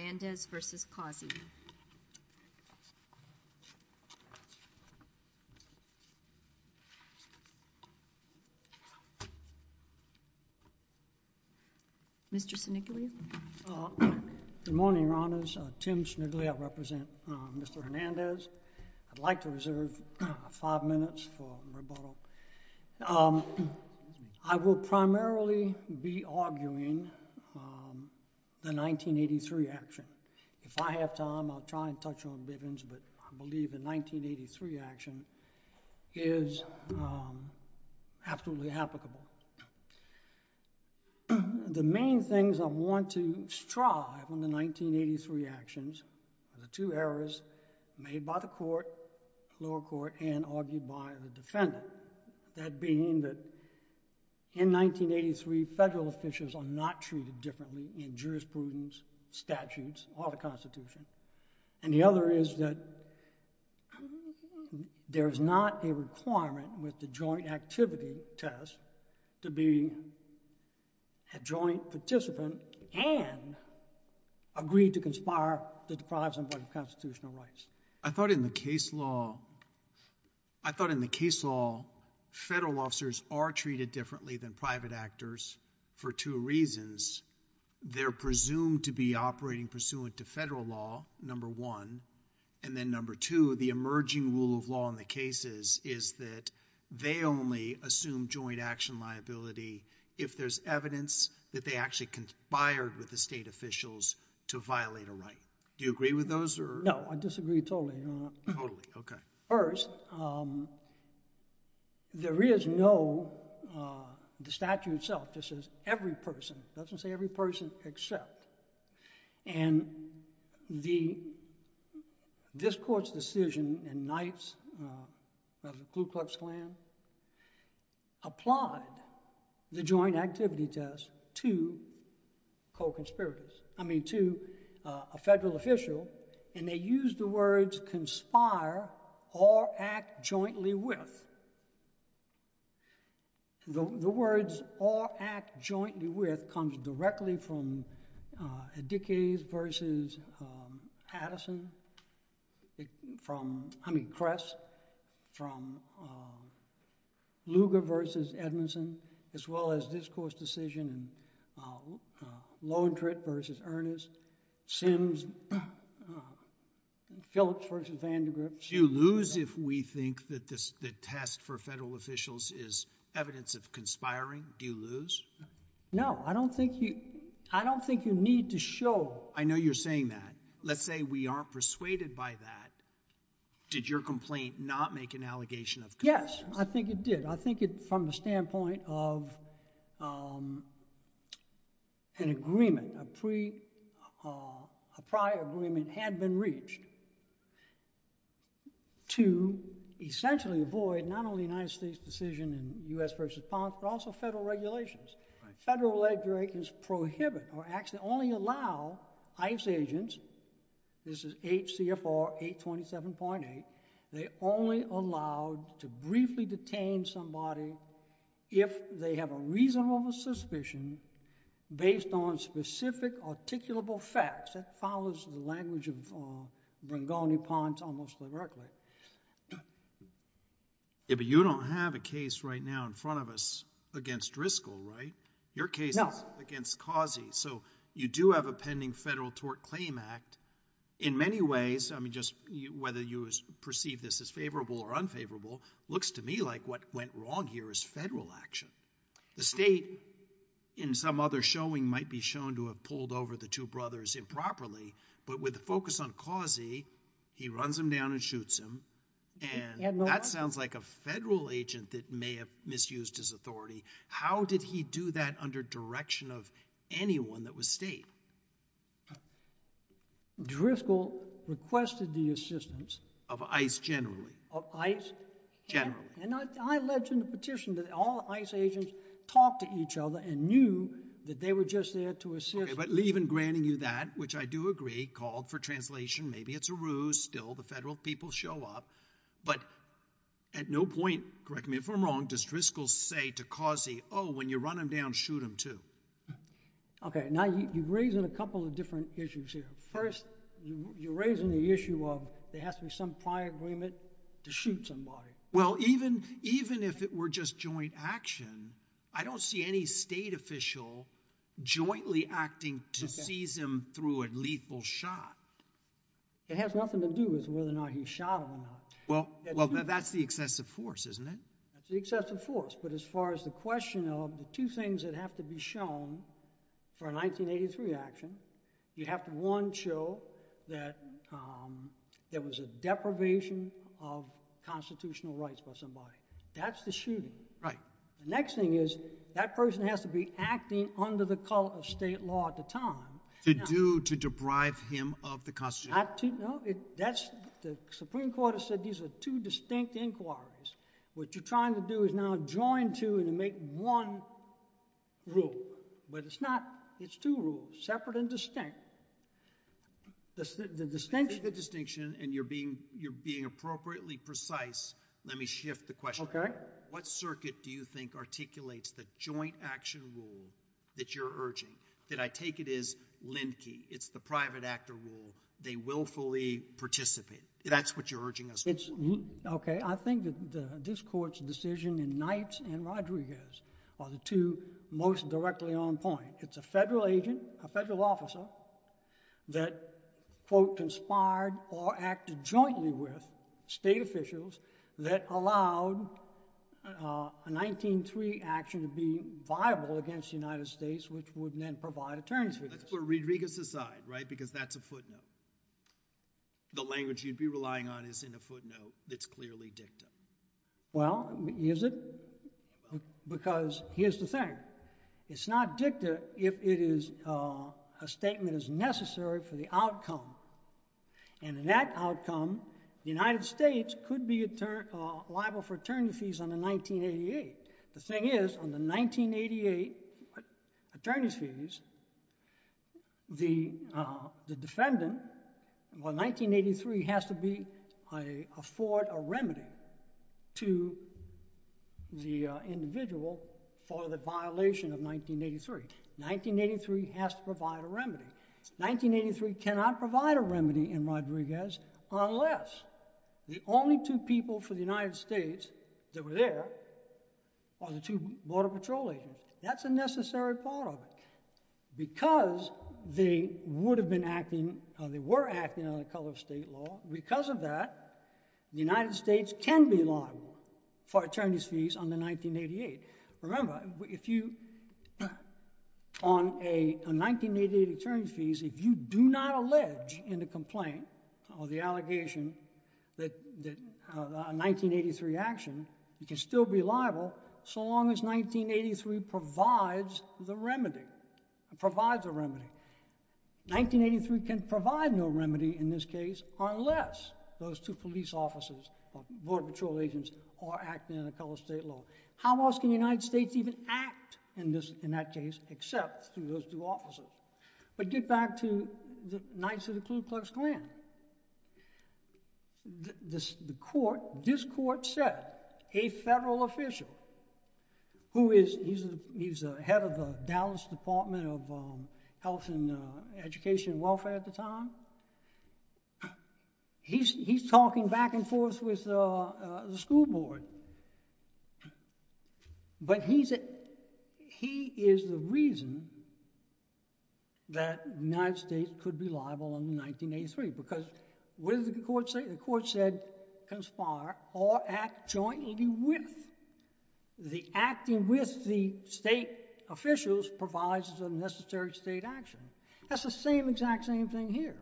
Hernandez v. Causey. Mr. Snigley. Good morning, Your Honors. Tim Snigley. I represent Mr. Hernandez. I'd like to reserve five minutes for rebuttal. I will primarily be arguing the 1983 action. If I have time, I'll try and touch on Bivens, but I believe the 1983 action is absolutely applicable. The main things I want to strive on the 1983 actions are the two errors made by the court, lower court, and argued by the defendant. That being that in 1983, federal officials are not treated differently in jurisprudence, statutes, or the Constitution. And the other is that there is not a requirement with the joint activity test to be a joint participant and agree to conspire the deprives of constitutional rights. I thought in the case law... I thought in the case law, federal officers are treated differently than private actors for two reasons. They're presumed to be operating pursuant to federal law, number one. And then number two, the emerging rule of law in the cases is that they only assume joint action liability if there's evidence that they actually conspired with the state officials to violate a right. Do you agree with those or... No, I disagree totally, Your Honor. Totally, okay. First, there is no... the statute itself just says every person. It doesn't say every person except. And this court's decision in Knights of the Ku Klux Klan applied the joint conspire or act jointly with. The words, or act jointly with, comes directly from Adikides versus Addison, from, I mean, Kress, from Lugar versus Edmondson, as well as this court's decision in Lowentritt versus Ernest, Sims, Phillips versus Vandergrift... Do you lose if we think that the test for federal officials is evidence of conspiring? Do you lose? No, I don't think you... I don't think you need to show... I know you're saying that. Let's say we aren't persuaded by that. Did your complaint not make an allegation of... Yes, I think it did. I think it... from the standpoint of an agreement, a prior agreement had been reached to essentially avoid not only the United States' decision in U.S. versus Ponce, but also federal regulations. Federal legislations prohibit or actually only allow ICE agents, this is H.C.F.R. 827.8, they only allow to briefly detain somebody if they have a reasonable suspicion based on specific articulable facts. That follows the language of Brangoni, Ponce, almost directly. Yeah, but you don't have a case right now in front of us against Driscoll, right? Your case... So you do have a pending federal tort claim act. In many ways, whether you perceive this as favorable or unfavorable, it looks to me like what went wrong here is federal action. The state, in some other showing, might be shown to have pulled over the two brothers improperly, but with the focus on Causey, he runs them down and shoots them, and that sounds like a federal agent that may have misused his authority. How did he do that under direction of anyone that was state? Driscoll requested the assistance... Of ICE generally. Of ICE... Generally. And I alleged in a petition that all ICE agents talked to each other and knew that they were just there to assist. Okay, but even granting you that, which I do agree, called for translation, maybe it's a ruse, still the federal people show up, but at no point, correct me if I'm wrong, does Driscoll say to Causey, oh, when you run them down, shoot them too? Okay, now you're raising a couple of different issues here. First, you're raising the issue of there has to be some prior agreement to shoot somebody. Well, even if it were just joint action, I don't see any state official jointly acting to seize him through a lethal shot. It has nothing to do with whether or not he shot or not. Well, that's the excessive force, isn't it? That's the excessive force, but as far as the question of the two things that have to be shown for a 1983 action, you have to, one, show that there was a deprivation of constitutional rights by somebody. That's the shooting. Right. The next thing is that person has to be acting under the color of state law at the time. To do, to deprive him of the constitutional... The Supreme Court has said these are two distinct inquiries. What you're trying to do is now join two and make one rule, but it's not. It's two rules, separate and distinct. The distinction... The distinction, and you're being appropriately precise, let me shift the question. Okay. What circuit do you think articulates the joint action rule that you're urging? That I take it is Lindkey. It's the private actor rule. They willfully participate. That's what you're urging us on. Okay. I think that this Court's decision in Knight and Rodriguez are the two most directly on point. It's a federal agent, a federal officer that, quote, conspired or acted jointly with state officials that allowed a 1903 action to be viable against the United States, which would then provide attorneys for this. That's where Rodriguez's side, right? Because that's a footnote. The language you'd be relying on is in a footnote that's clearly dicta. Well, is it? Because here's the thing. It's not dicta if it is a statement that's necessary for the outcome, and in that outcome, the United States could be liable for attorney fees. The defendant, well, 1983 has to afford a remedy to the individual for the violation of 1983. 1983 has to provide a remedy. 1983 cannot provide a remedy in Rodriguez unless the only two people for the United States that were there are the two Border Patrol agents. That's a necessary part of it. Because they would have been acting or they were acting on the color of state law, because of that, the United States can be liable for attorney's fees on the 1988. Remember, on a 1988 attorney's fees, if you do not allege in the complaint or the allegation that a 1983 action, you can still be liable so long as 1983 provides the remedy, provides a remedy. 1983 can provide no remedy in this case unless those two police officers or Border Patrol agents are acting on the color of state law. How else can the United States even act in that case except through those two officers? But get back to the Knights of the Ku Klux Klan. This court said a federal official, who is, he's the head of the Dallas Department of Health and Education and Welfare at the time, that the United States could be liable on 1983. Because what did the court say? The court said conspire or act jointly with. The acting with the state officials provides a necessary state action. That's the same exact same thing here.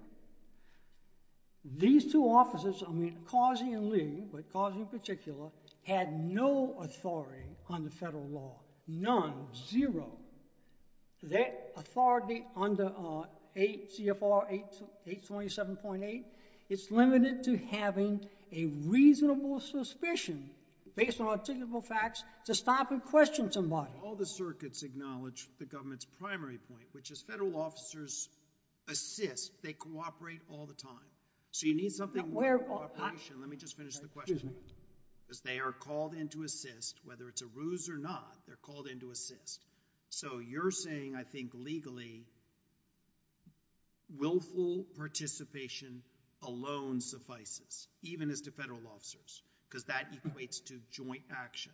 These two officers, I mean Carsey and Lee, but Carsey in particular, had no authority on the federal law. None. Zero. That authority under 8 CFR 827.8, it's limited to having a reasonable suspicion based on articulable facts to stop and question somebody. All the circuits acknowledge the government's primary point, which is federal officers assist, they cooperate all the time. So you need something more than cooperation. Let me just finish the question. Because they are called in to assist, whether it's a ruse or not, they're called in to assist. So you're saying, I think, legally, willful participation alone suffices, even as to federal officers. Because that equates to joint action.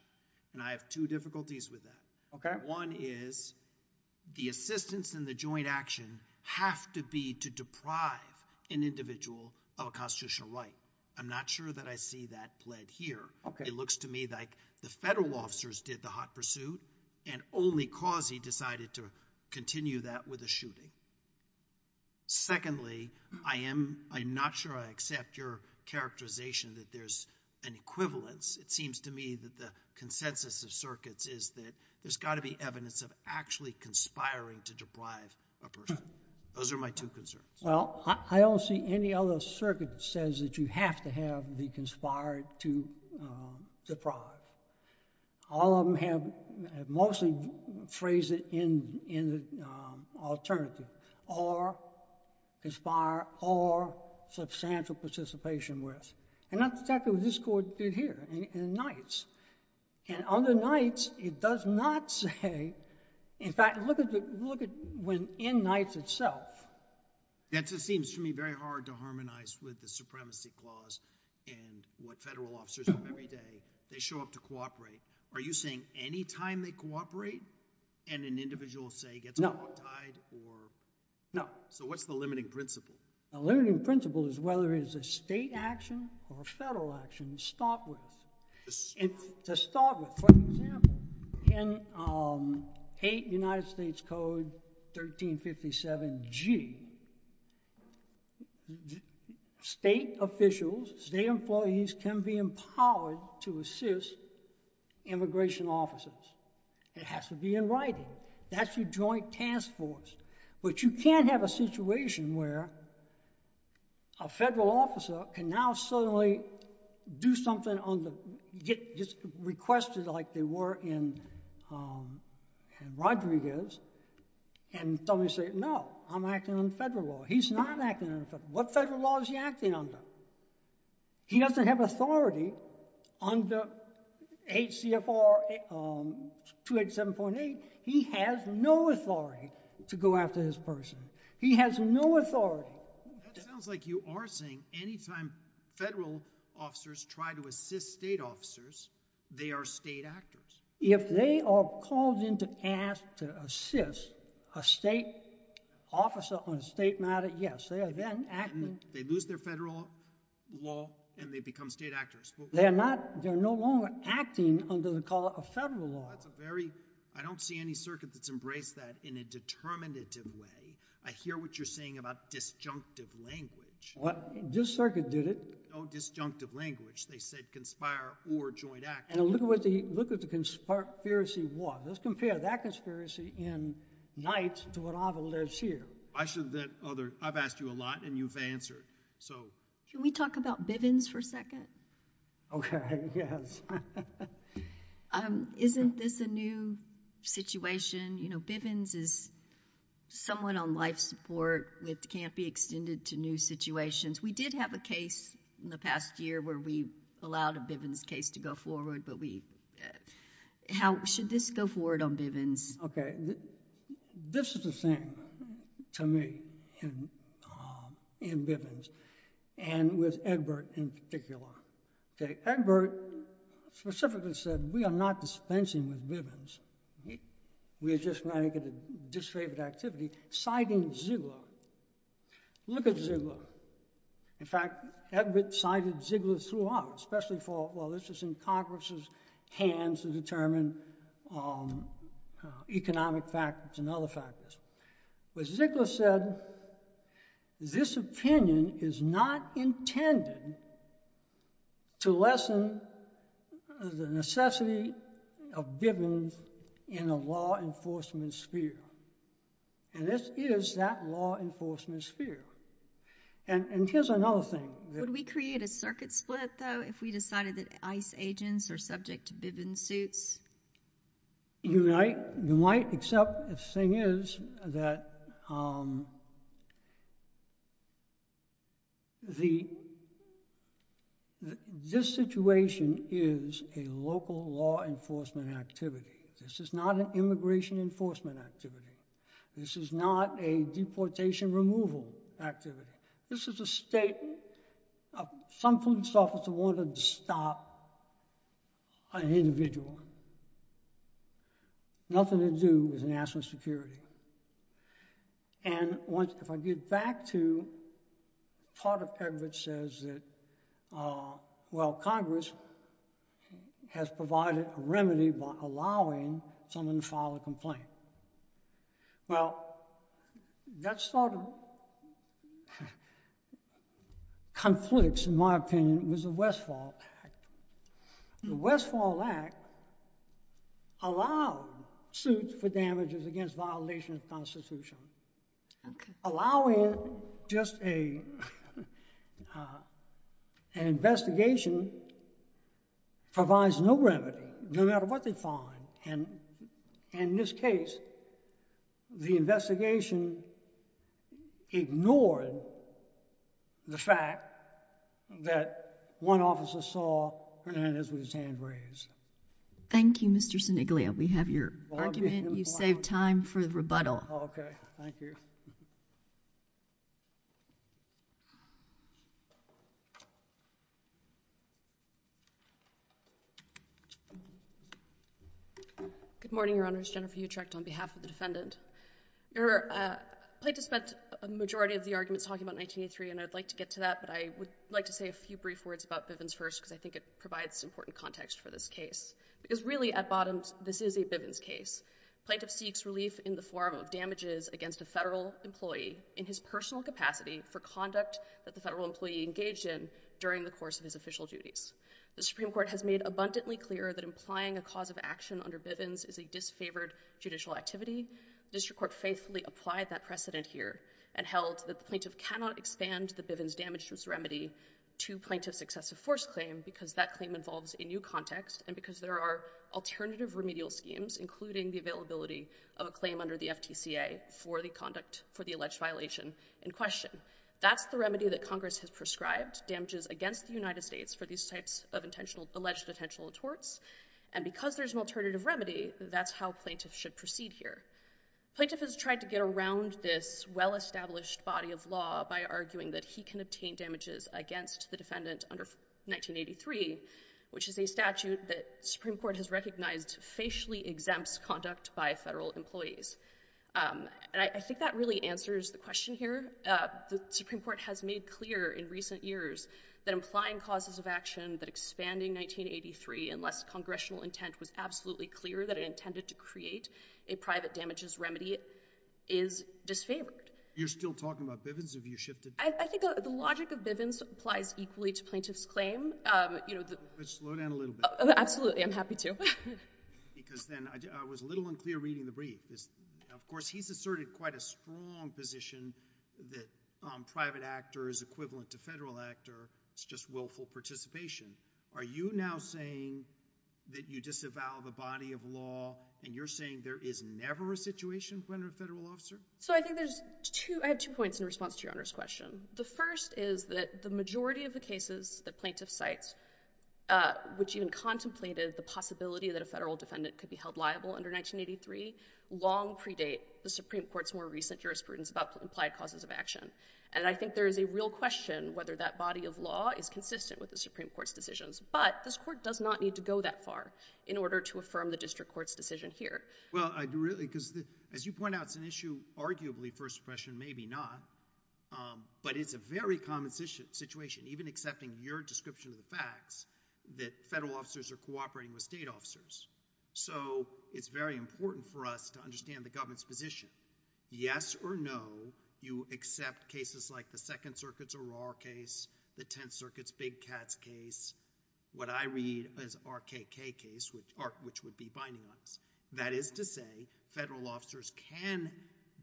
And I have two difficulties with that. One is, the assistance and the joint action have to be to deprive an individual of a constitutional right. I'm not sure that I see that pled here. It looks to me like the federal officers did the hot pursuit, and only Carsey decided to continue that with a shooting. Secondly, I am not sure I accept your characterization that there's an equivalence. It seems to me that the consensus of circuits is that there's got to be evidence of actually conspiring to deprive a person. Those are my two concerns. Well, I don't see any other circuit that says that you have to have the conspired to deprive. All of them have mostly phrased it in the alternative. Or conspire, or substantial participation with. And that's exactly what this court did here in Knights. And under Knights, it does not say, in fact, look at when in Knights itself. That just seems to me very hard to harmonize with the Supremacy Clause, and what federal officers do every day. They show up to cooperate. Are you saying any time they cooperate, and an individual, say, gets baptized, or? So what's the limiting principle? The limiting principle is whether it is a state action or a federal action to start with. To start with, for example, in United States Code 1357G, state officials, state employees can be empowered to assist immigration officers. It has to be in writing. That's your joint task force. But you can't have a situation where a federal officer can now suddenly do something, get requested like they were in Rodriguez, and suddenly say, no, I'm acting under federal law. He's not acting under federal law. What federal law is he acting under? He doesn't have authority under H.C.F.R. 287.8. He has no authority to go after this person. He has no authority. That sounds like you are saying any time federal officers try to assist state officers, they are state actors. If they are called in to assist a state officer on a state matter, yes, they are then acting. They lose their federal law, and they become state actors. They're no longer acting under the color of federal law. I don't see any circuit that's embraced that in a determinative way. I hear what you're saying about disjunctive language. This circuit did it. No disjunctive language. They said conspire or joint act. And look at what the conspiracy was. Let's compare that conspiracy in Knight to what I've alleged here. I've asked you a lot, and you've answered. Can we talk about Bivens for a second? Okay, yes. Isn't this a new situation? You know, Bivens is somewhat on life support. It can't be extended to new situations. We did have a case in the past year where we allowed a Bivens case to go forward, but should this go forward on Bivens? Okay. This is the thing to me in Bivens and with Egbert in particular. Okay. Egbert specifically said, we are not dispensing with Bivens. We are just trying to get a disfavored activity, citing Ziegler. Look at Ziegler. In fact, Egbert cited Ziegler throughout, especially for, well, this was in Congress's hands to determine economic factors and other factors. But Ziegler said, this opinion is not intended to lessen the necessity of Bivens in a law enforcement sphere, and this is that law enforcement sphere. And here's another thing. Would we create a circuit split, though, if we decided that ICE agents are subject to Bivens suits? You might. You might, except the thing is that this situation is a local law enforcement activity. This is not an immigration enforcement activity. This is not a deportation removal activity. This is a state, some police officer wanted to stop an individual. Nothing to do with national security. And if I get back to, part of Egbert says that, well, Congress has provided a remedy by allowing someone to file a complaint. Well, that sort of conflicts, in my opinion, with the Westfall Act. The Westfall Act allowed suits for damages against violation of the Constitution. Allowing just an investigation provides no remedy, no matter what they find. And in this case, the investigation ignored the fact that one officer saw Hernandez with his hand raised. Thank you, Mr. Siniglia. We have your argument. You saved time for the rebuttal. Okay. Thank you. Good morning, Your Honors. Jennifer Utrecht on behalf of the defendant. Your, plaintiff spent a majority of the arguments talking about 1983, and I'd like to get to that, but I would like to say a few brief words about Bivens first, because I think it provides important context for this case. Because really, at bottom, this is a Bivens case. Plaintiff seeks relief in the form of damages against a federal employee in his personal capacity for conduct that the federal employee engaged in during the course of his official duties. The Supreme Court has made abundantly clear that implying a cause of action under Bivens is a disfavored judicial activity. The district court faithfully applied that precedent here, and held that the plaintiff cannot expand the Bivens damage remedy to plaintiff's excessive force claim, because that claim involves a new context, and because there are alternative remedial schemes, including the availability of a claim under the FTCA for the conduct, for the alleged violation in question. That's the remedy that Congress has prescribed, damages against the United States for these types of alleged intentional torts, and because there's an alternative remedy, that's how plaintiffs should proceed here. Plaintiff has tried to get around this well-established body of law by arguing that he can obtain damages against the defendant under 1983, which is a statute that Supreme Court has recognized facially exempts conduct by federal employees. And I think that really answers the question here. The Supreme Court has made clear in recent years that implying causes of action, that expanding 1983 unless congressional intent was absolutely clear that it intended to create a private damages remedy, is disfavored. You're still talking about Bivens? Have you shifted? I think the logic of Bivens applies equally to plaintiff's claim. Slow down a little bit. Absolutely. I'm happy to. Because then I was a little unclear reading the brief. Of course, he's asserted quite a strong position that private actor is equivalent to federal actor. It's just willful participation. Are you now saying that you disavow the body of law, and you're saying there is never a situation for under a federal officer? I have two points in response to Your Honor's question. The first is that the majority of the cases that plaintiff cites, which even contemplated the possibility that a federal defendant could be held liable under 1983, long predate the Supreme Court's more recent jurisprudence about implied causes of action. And I think there is a real question whether that body of law is consistent with the Supreme Court's decisions. But this Court does not need to go that far in order to affirm the district court's decision here. Well, I do really, because as you point out, it's an issue arguably first impression, maybe not. But it's a very common situation. Even accepting your description of the facts that federal officers are cooperating with state officers. So, it's very important for us to understand the government's position. Yes or no, you accept cases like the Second Circuit's O'Rourke case, the Tenth Circuit's Big Cats case, what I read as RKK case, which would be binding on us. That is to say, federal officers can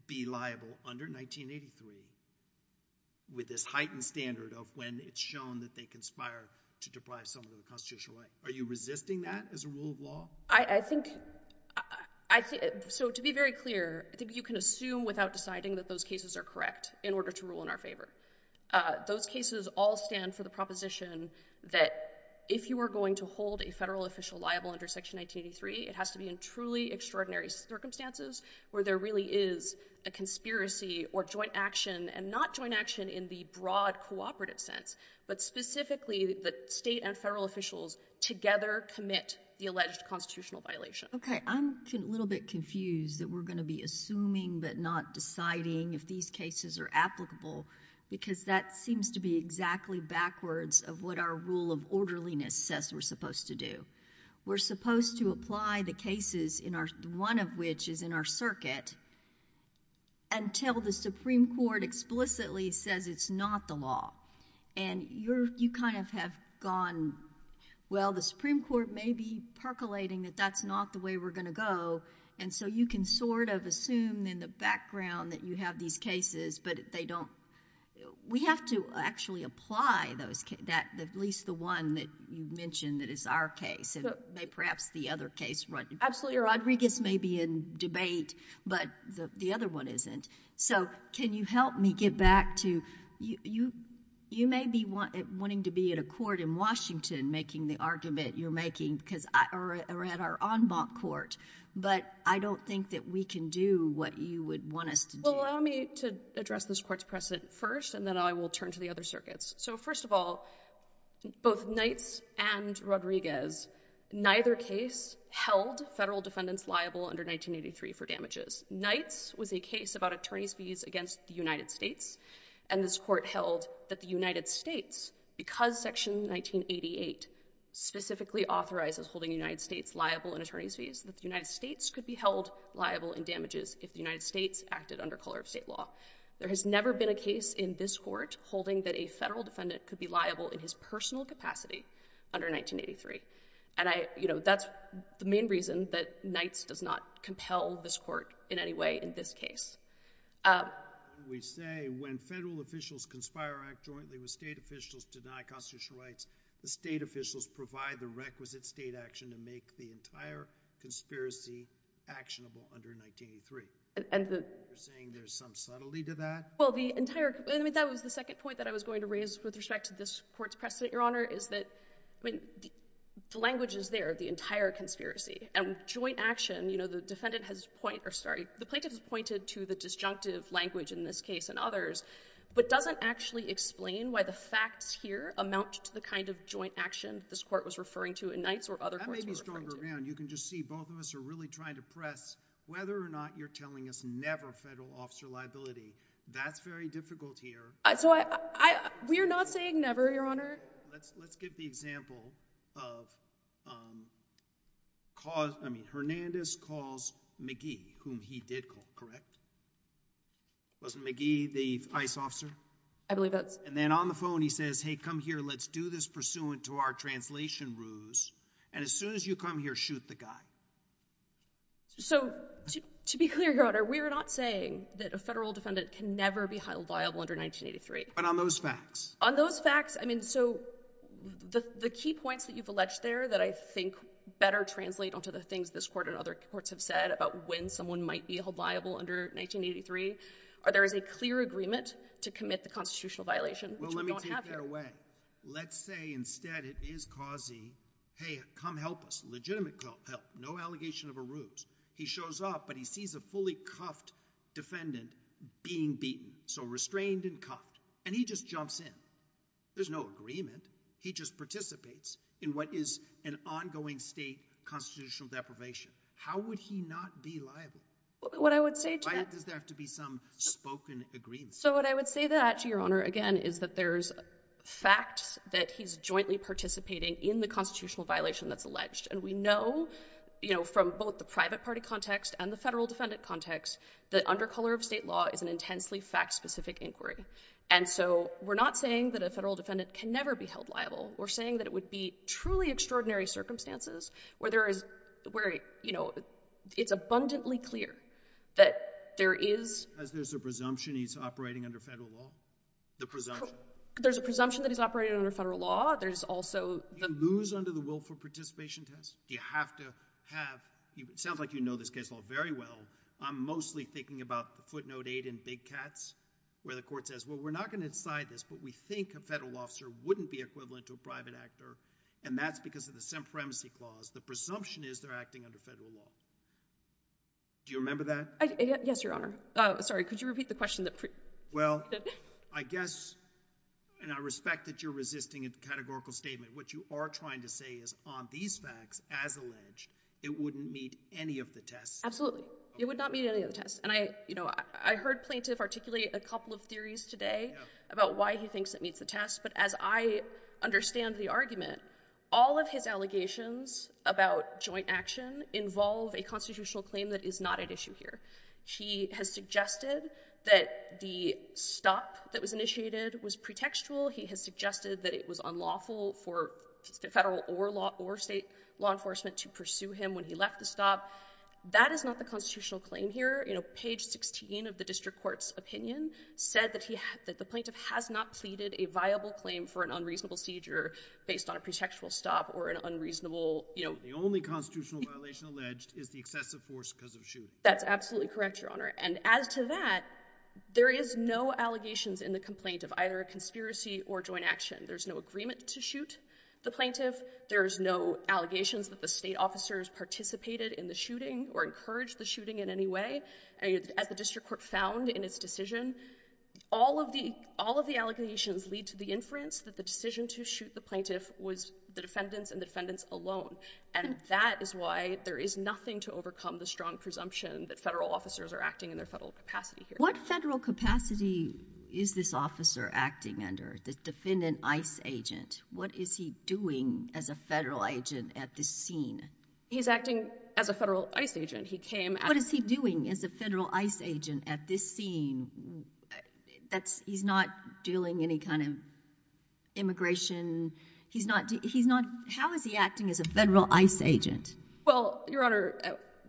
be liable under 1983 with this heightened standard of when it's shown that they conspire to deprive someone of the constitutional right. Are you resisting that as a rule of law? I think, so to be very clear, I think you can assume without deciding that those cases are correct in order to rule in our favor. Those cases all stand for the proposition that if you are going to hold a federal official liable under Section 1983, it has to be in truly extraordinary circumstances where there really is a conspiracy or joint action, and not joint action in the broad cooperative sense, but specifically that state and federal officials together commit the alleged constitutional violation. Okay. I'm a little bit confused that we're going to be assuming but not deciding if these cases are applicable, because that seems to be exactly backwards of what our rule of orderliness says we're supposed to do. We're supposed to apply the cases, one of which is in our circuit, until the Supreme Court explicitly says it's not the law, and you kind of have gone, well, the Supreme Court may be percolating that that's not the way we're going to go, and so you can sort of assume in the background that you have these cases, but they don't... We have to actually apply those... at least the one that you mentioned that is our case, and perhaps the other case... Absolutely. Rodriguez may be in debate, but the other one isn't. So, can you help me get back to... You may be wanting to be in a court in Washington making the argument you're making, because... or at our en banc court, but I don't think that we can do what you would want us to do. Well, allow me to address this Court's precedent first, and then I will turn to the other circuits. So, first of all, both Knights and Rodriguez, neither case held federal defendants liable under 1983 for damages. Knights was a case about attorney's fees against the United States, and this Court held that the United States, because Section 1988 specifically authorizes holding United States liable in attorney's fees, that the United States could be held liable in damages if the United States acted under color of state law. There has never been a case in this Court holding that a federal defendant could be liable in his personal capacity under 1983, and I... you know, that's the main reason that Knights does not compel this Court in any way in this case. We say when federal officials conspire or act jointly with state officials to deny constitutional rights, the state officials provide the requisite state action to make the entire conspiracy actionable under 1983. And the... You're saying there's some subtlety to that? Well, the entire... I mean, that was the second point that I was going to raise with respect to this Court's precedent, Your Honor, is that... I mean, the language is there, the entire conspiracy. And joint action, you know, the defendant has pointed... or, sorry, the plaintiff has pointed to the disjunctive language in this case and others, but doesn't actually explain why the facts here amount to the kind of joint action this Court was referring to in Knights or other courts were referring to. If you look a little bit longer around, you can just see both of us are really trying to press whether or not you're telling us never federal officer liability. That's very difficult here. So I... I... We're not saying never, Your Honor. Let's get the example of cause... I mean, Hernandez calls McGee, whom he did call, correct? Wasn't McGee the ICE officer? I believe that's... And then on the phone, he says, hey, come here, let's do this pursuant to our translation rules, and as soon as you come here, shoot the guy. So, to be clear, Your Honor, we are not saying that a federal defendant can never be held liable under 1983. But on those facts. On those facts. I mean, so the key points that you've alleged there that I think better translate onto the things this Court and other courts have said about when someone might be held liable under 1983 are there is a clear agreement to commit the constitutional violation, which we don't have here. It's not a clear way. Let's say, instead, it is causing, hey, come help us. Legitimate help. No allegation of a ruse. He shows up, but he sees a fully cuffed defendant being beaten. So restrained and cuffed. And he just jumps in. There's no agreement. He just participates in what is an ongoing state constitutional deprivation. How would he not be liable? What I would say to that... Why does there have to be some spoken agreement? So what I would say that, Your Honor, again, is that there's facts that he's jointly participating in the constitutional violation that's alleged. And we know, you know, from both the private party context and the federal defendant context, that under color of state law is an intensely fact-specific inquiry. And so we're not saying that a federal defendant can never be held liable. We're saying that it would be truly extraordinary circumstances where there is... where, you know, it's abundantly clear that there is... As there's a presumption he's operating under federal law? The presumption? There's a presumption that he's operating under federal law. There's also... Do you lose under the willful participation test? Do you have to have... It sounds like you know this case law very well. I'm mostly thinking about the footnote 8 in Big Cats, where the court says, well, we're not going to decide this, but we think a federal officer wouldn't be equivalent to a private actor. And that's because of the Semperemcy Clause. The presumption is they're acting under federal law. Do you remember that? Yes, Your Honor. Sorry, could you repeat the question that... Well, I guess, and I respect that you're resisting a categorical statement. What you are trying to say is on these facts, as alleged, it wouldn't meet any of the tests. Absolutely. It would not meet any of the tests. And I, you know, I heard Plaintiff articulate a couple of theories today about why he thinks it meets the test. But as I understand the argument, all of his allegations about joint action involve a constitutional claim that is not at issue here. He has suggested that the stop that was initiated was pretextual. He has suggested that it was unlawful for federal or state law enforcement to pursue him when he left the stop. That is not the constitutional claim here. Page 16 of the District Court's opinion said that the Plaintiff has not pleaded a viable claim for an unreasonable seizure based on a pretextual stop or an unreasonable... That's absolutely correct, Your Honor. And as to that, there is no allegations in the complaint of either a conspiracy or joint action. There's no agreement to shoot the Plaintiff. There's no allegations that the state officers participated in the shooting or encouraged the shooting in any way. As the District Court found in its decision, all of the allegations lead to the inference that the decision to shoot the Plaintiff was the defendant's and the defendant's alone. And that is why there is nothing to overcome the strong presumption that federal officers are acting in their federal capacity here. What federal capacity is this officer acting under, the defendant ICE agent? What is he doing as a federal agent at this scene? He's acting as a federal ICE agent. He came... What is he doing as a federal ICE agent at this scene? That's... He's not dealing any kind of immigration. He's not... He's not... How is he acting as a federal ICE agent? Well, Your Honor,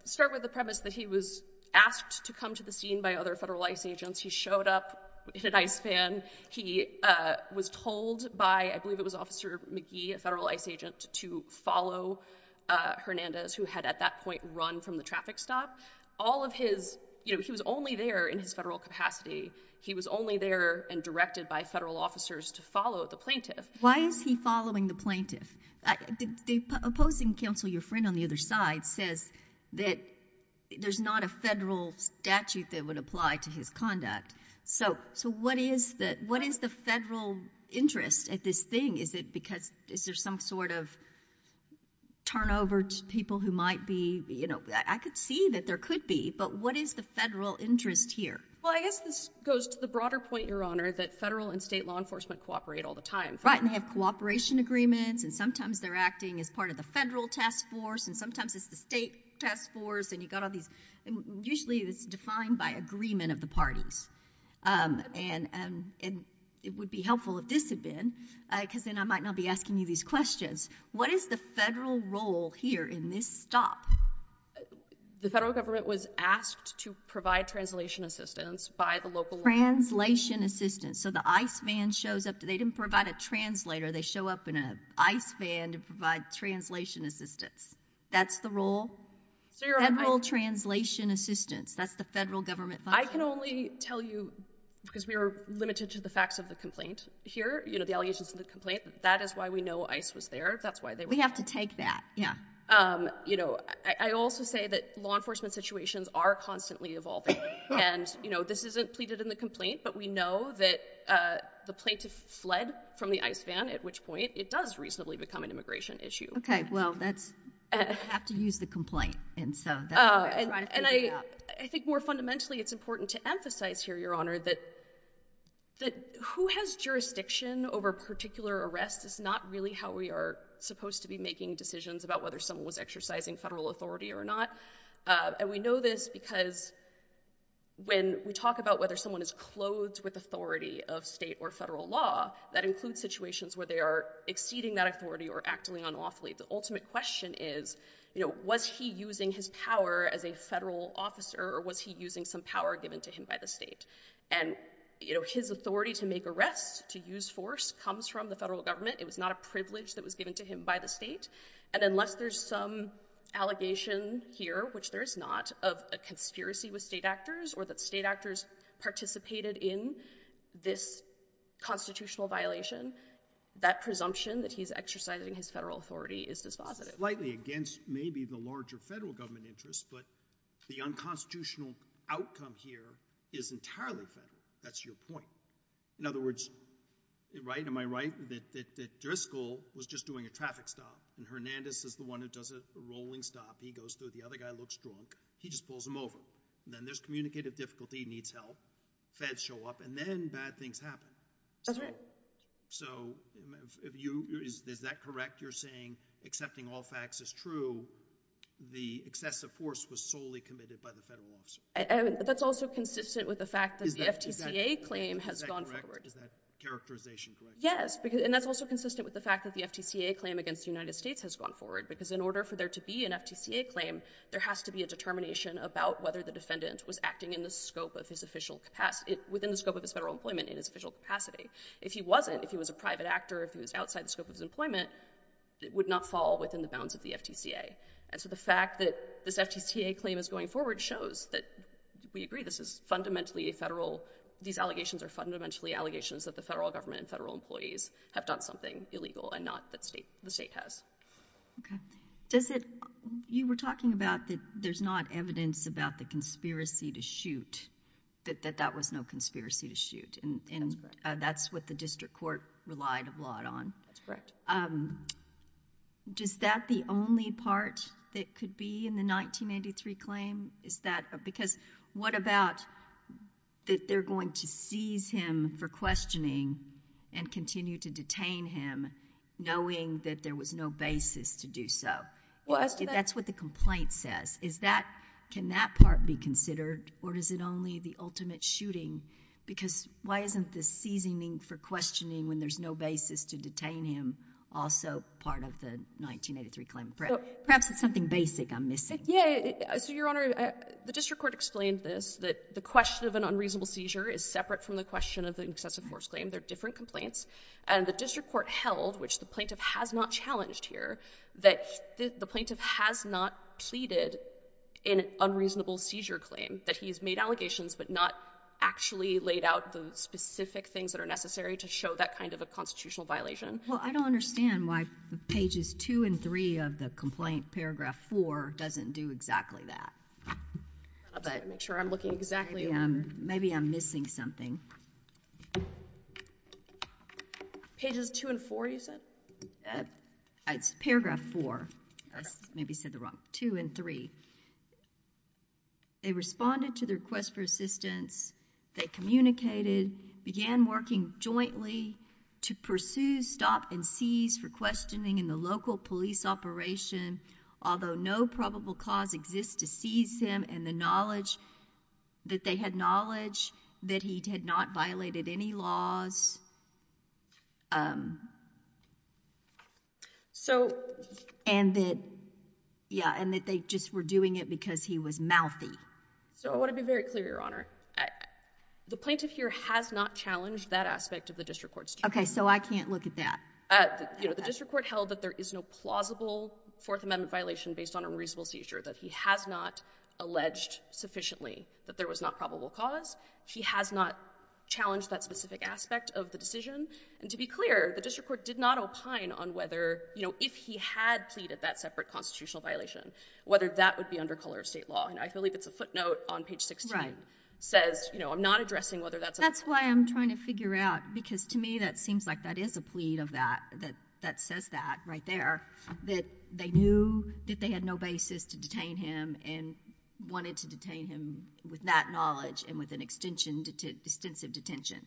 start with the premise that he was asked to come to the scene by other federal ICE agents. He showed up in an ICE van. He was told by, I believe it was Officer McGee, a federal ICE agent, to follow Hernandez, who had at that point run from the traffic stop. All of his... You know, he was only there in his federal capacity. He was only there and directed by federal officers to follow the Plaintiff. Why is he following the Plaintiff? The opposing counsel, your friend on the other side, says that there's not a federal statute that would apply to his conduct. So, what is the federal interest at this thing? Is it because... Is there some sort of turnover to people who might be... I could see that there could be, but what is the federal interest here? Well, I guess this goes to the broader point, Your Honor, that federal and state law enforcement cooperate all the time. And they have cooperation agreements, and sometimes they're acting as part of the federal task force, and sometimes it's the state task force, and you've got all these... Usually, it's defined by agreement of the parties. And it would be helpful if this had been, because then I might not be asking you these questions. What is the federal role here in this stop? The federal government was asked to provide translation assistance by the local... Translation assistance. So, the ICE van shows up... They didn't provide a translator. They show up in an ICE van to provide translation assistance. That's the role? Federal translation assistance. That's the federal government... I can only tell you, because we are limited to the facts of the complaint here, you know, the allegations of the complaint. That is why we know ICE was there. That's why they... We have to take that. Yeah. You know, I also say that law enforcement situations are constantly evolving. And, you know, this isn't pleaded in the complaint, but we know that the plaintiff fled from the ICE van, at which point it does reasonably become an immigration issue. Well, that's... We have to use the complaint. And so... And I think more fundamentally, it's important to emphasize here, Your Honor, that who has jurisdiction over particular arrests is not really how we are supposed to be making decisions about whether someone was exercising federal authority or not. And we know this because when we talk about whether someone is clothed with authority of state or federal law, that includes situations where they are exceeding that authority or acting unlawfully. The ultimate question is, you know, was he using his power as a federal officer or was he using some power given to him by the state? And, you know, his authority to make arrests, to use force, comes from the federal government. It was not a privilege that was given to him by the state. And unless there's some allegation here, which there is not, of a conspiracy with state actors or that state actors participated in this constitutional violation, that presumption that he's exercising his federal authority is dispositive. Slightly against maybe the larger federal government interest, but the unconstitutional outcome here is entirely federal. That's your point. In other words... Right? Am I right? That Driscoll was just doing a traffic stop and Hernandez is the one who does a rolling stop. He goes through. The other guy looks drunk. He just pulls him over. And then there's communicative difficulty. He needs help. Feds show up. And then bad things happen. That's right. So is that correct? You're saying accepting all facts is true. The excessive force was solely committed by the federal officer. That's also consistent with the fact that the FTCA claim has gone forward. Is that correct? Yes. And that's also consistent with the fact that the FTCA claim against the United States has gone forward. Because in order for there to be an FTCA claim, there has to be a determination about whether the defendant was acting within the scope of his federal employment in his official capacity. If he wasn't, if he was a private actor, if he was outside the scope of his employment, it would not fall within the bounds of the FTCA. And so the fact that this FTCA claim is going forward shows that we agree this is fundamentally a federal, these allegations are fundamentally allegations that the federal government and federal employees have done something illegal and not that the state has. Okay. Does it, you were talking about that there's not evidence about the conspiracy to shoot, that that was no conspiracy to shoot, and that's what the district court relied a lot on. That's correct. Is that the only part that could be in the 1983 claim? Is that, because what about that they're going to seize him for questioning and continue to detain him knowing that there was no basis to do so? That's what the complaint says. Is that, can that part be considered or is it only the ultimate shooting? Because why isn't the seizing for questioning when there's no basis to detain him also part of the 1983 claim? Perhaps it's something basic I'm missing. So, Your Honor, the district court explained this, that the question of an unreasonable seizure is separate from the question of the excessive force claim. They're different complaints. And the district court held, which the plaintiff has not challenged here, that the plaintiff has not pleaded an unreasonable seizure claim, that he's made allegations but not actually laid out the specific things that are necessary to show that kind of a constitutional violation. Well, I don't understand why pages 2 and 3 of the complaint, paragraph 4, doesn't do exactly that. I'm sorry, make sure I'm looking exactly. Maybe I'm missing something. Pages 2 and 4, you said? It's paragraph 4. I maybe said the wrong, 2 and 3. They responded to the request for assistance. They communicated, began working jointly to pursue, stop, and seize for questioning in the local police operation, although no probable cause exists to seize him and the knowledge that they had knowledge that he had not violated any laws. So, and that, yeah, and that they just were doing it because he was mouthy. So I want to be very clear, Your Honor. The plaintiff here has not challenged that aspect of the district court's. Okay, so I can't look at that. You know, the district court held that there is no plausible Fourth Amendment violation based on a reasonable seizure, that he has not alleged sufficiently that there was not probable cause. He has not challenged that specific aspect of the decision, and to be clear, the district court did not opine on whether, you know, if he had pleaded that separate constitutional violation, whether that would be under color of state law, and I believe it's a footnote on page 16. Says, you know, I'm not addressing whether that's a. That's why I'm trying to figure out, because to me that seems like that is a plea of that, that says that right there, that they knew that they had no basis to detain him and wanted to detain him with that knowledge and with an extensive detention.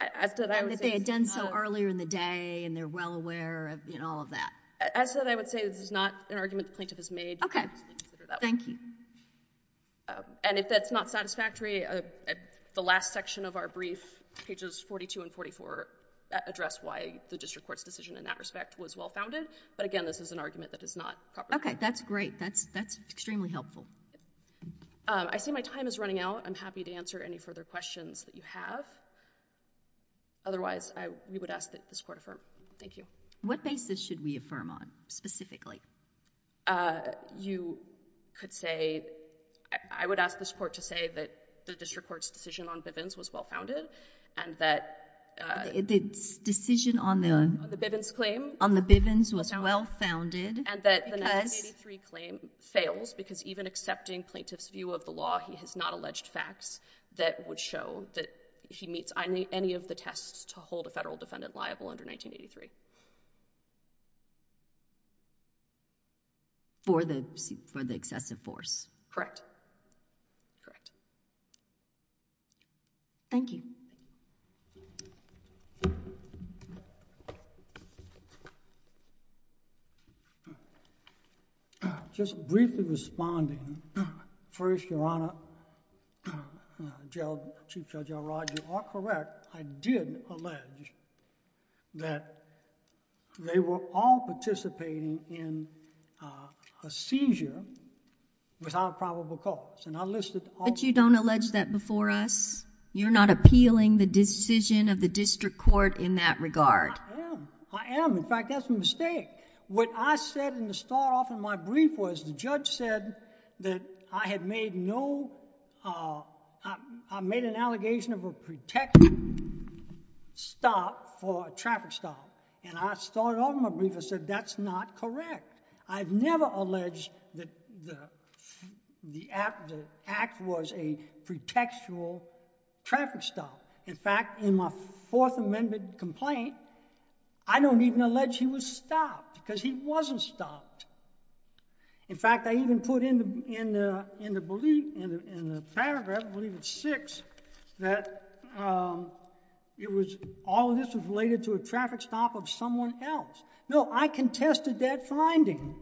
And that they had done so earlier in the day, and they're well aware of, you know, all of that. As I said, I would say this is not an argument the plaintiff has made. Thank you. And if that's not satisfactory, the last section of our brief, pages 42 and 44, address why the district court's decision in that respect was well-founded, but again, this is an argument that is not properly. Okay, that's great. That's extremely helpful. I see my time is running out. I'm happy to answer any further questions that you have. Otherwise, we would ask that this court affirm. Thank you. What basis should we affirm on, specifically? You could say, I would ask this court to say that the district court's decision on Bivens was well-founded, and that. The decision on the. On the Bivens claim. On the Bivens was well-founded. And that the 1983 claim fails because even accepting plaintiff's view of the law, he has not alleged facts that would show that he meets any of the tests to hold a federal defendant liable under 1983. For the excessive force. Correct. Correct. Thank you. Just briefly responding. First, Your Honor, Chief Judge Elrod, you are correct. I did allege that they were all participating in a seizure without probable cause. And I listed all. But you don't allege that before us? You're not appealing the decision of the district court in that regard? I am. I am. In fact, that's a mistake. What I said in the start off of my brief was the judge said that I had made no, I made an allegation of a pretext stop for a traffic stop. And I started off my brief and said that's not correct. I've never alleged that the act was a pretextual traffic stop. In fact, in my Fourth Amendment complaint, I don't even allege he was stopped because he wasn't stopped. In fact, I even put in the paragraph, I believe it's six, that all of this was related to a traffic stop of someone else. No, I contested that finding.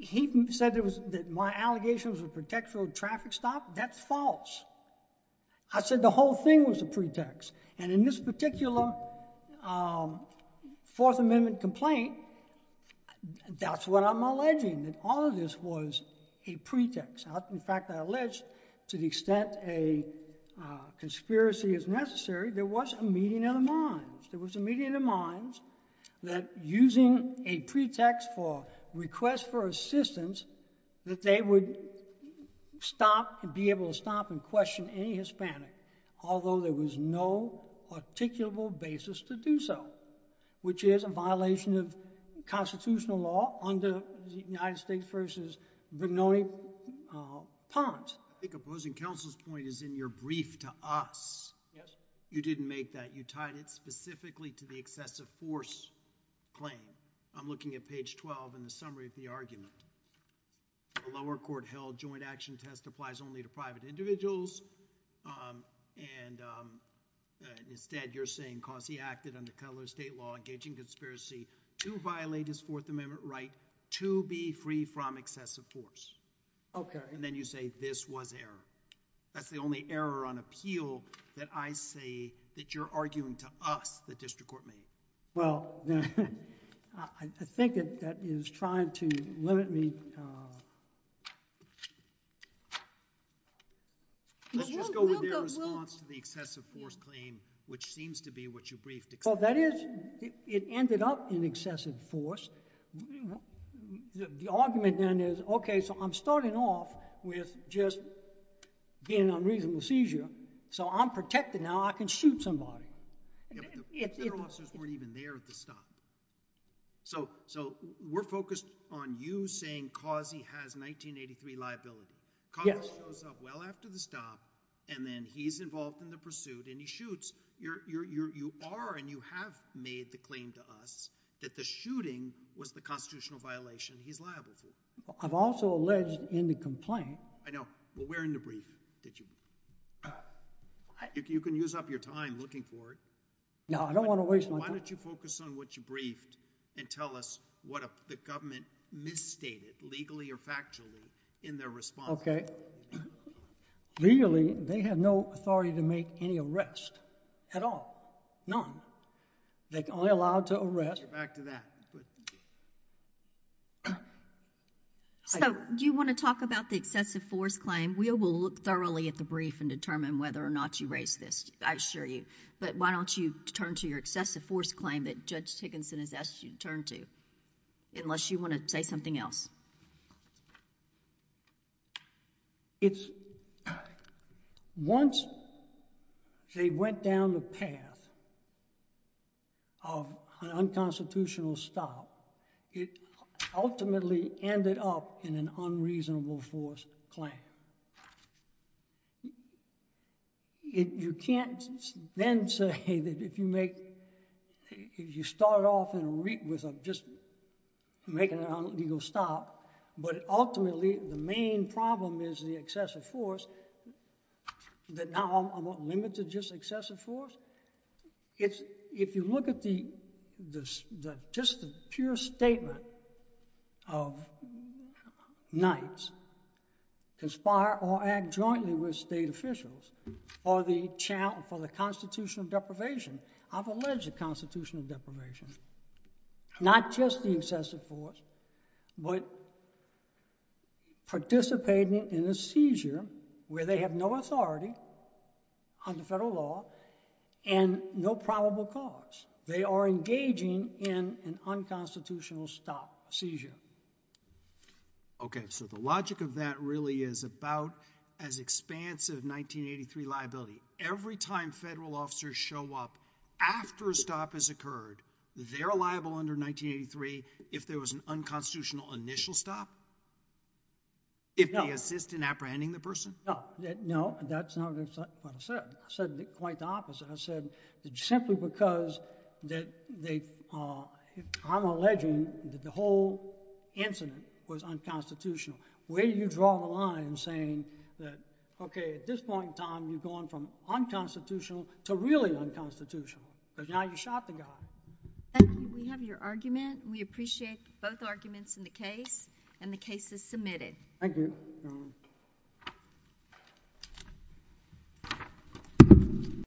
He said that my allegation was a pretextual traffic stop. That's false. I said the whole thing was a pretext. And in this particular Fourth Amendment complaint, that's what I'm alleging, that all of this was a pretext. In fact, I allege to the extent a conspiracy is necessary, there was a meeting of the minds. There was a meeting of the minds that using a pretext for request for assistance, that they would stop and be able to stop and question any Hispanic, although there was no articulable basis to do so, which is a violation of constitutional law under the United States versus Vignone Pons. I think opposing counsel's point is in your brief to us. Yes. You didn't make that. You tied it specifically to the excessive force claim. I'm looking at page 12 in the summary of the argument. The lower court held joint action test applies only to private individuals and instead you're saying cause he acted under federal or state law engaging conspiracy to violate his Fourth Amendment right to be free from excessive force. Okay. And then you say this was error. That's the only error on appeal that I say that you're arguing to us, the district court made. Well, I think that is trying to limit me. Let's just go with your response to the excessive force claim, which seems to be what you briefed. Well, that is, it ended up in excessive force. The argument then is, okay, so I'm starting off with just being on reasonable seizure, so I'm protected now. I can shoot somebody. Federal officers weren't even there at the stop. So, we're focused on you saying cause he has 1983 liability. Cause he shows up well after the stop and then he's involved in the pursuit and he shoots. You are and you have made the claim to us that the shooting was the constitutional violation he's liable to. I've also alleged in the complaint. I know. Well, where in the brief did you? You can use up your time looking for it. No, I don't want to waste my time. Why don't you focus on what you briefed and tell us what the government misstated legally or factually in their response. Okay. Legally, they have no authority to make any arrest at all. None. They're only allowed to arrest. Get back to that. So, do you want to talk about the excessive force claim? And we will look thoroughly at the brief and determine whether or not you raised this. I assure you. But why don't you turn to your excessive force claim that Judge Tickinson has asked you to turn to, unless you want to say something else. It's... Once they went down the path of an unconstitutional stop, it ultimately ended up in an unreasonable force claim. You can't then say that if you make... If you start off with just making an illegal stop, but ultimately the main problem is the excessive force, that now I'm limited to just excessive force. If you look at just the pure statement of Knights, conspire or act jointly with state officials for the constitutional deprivation, I've alleged a constitutional deprivation. Not just the excessive force, but participating in a seizure where they have no authority under federal law and no probable cause. They are engaging in an unconstitutional stop, a seizure. Okay. So, the logic of that really is about as expansive 1983 liability. Every time federal officers show up after a stop has occurred, they're liable under 1983 if there was an unconstitutional initial stop? If they assist in apprehending the person? No. That's not what I said. I said quite the opposite. I said simply because I'm alleging that the whole incident was unconstitutional. Where do you draw the line saying that, okay, at this point in time, you've gone from unconstitutional to really unconstitutional, but now you shot the guy. We have your argument. We appreciate both arguments in the case, and the case is submitted. Thank you. Thank you.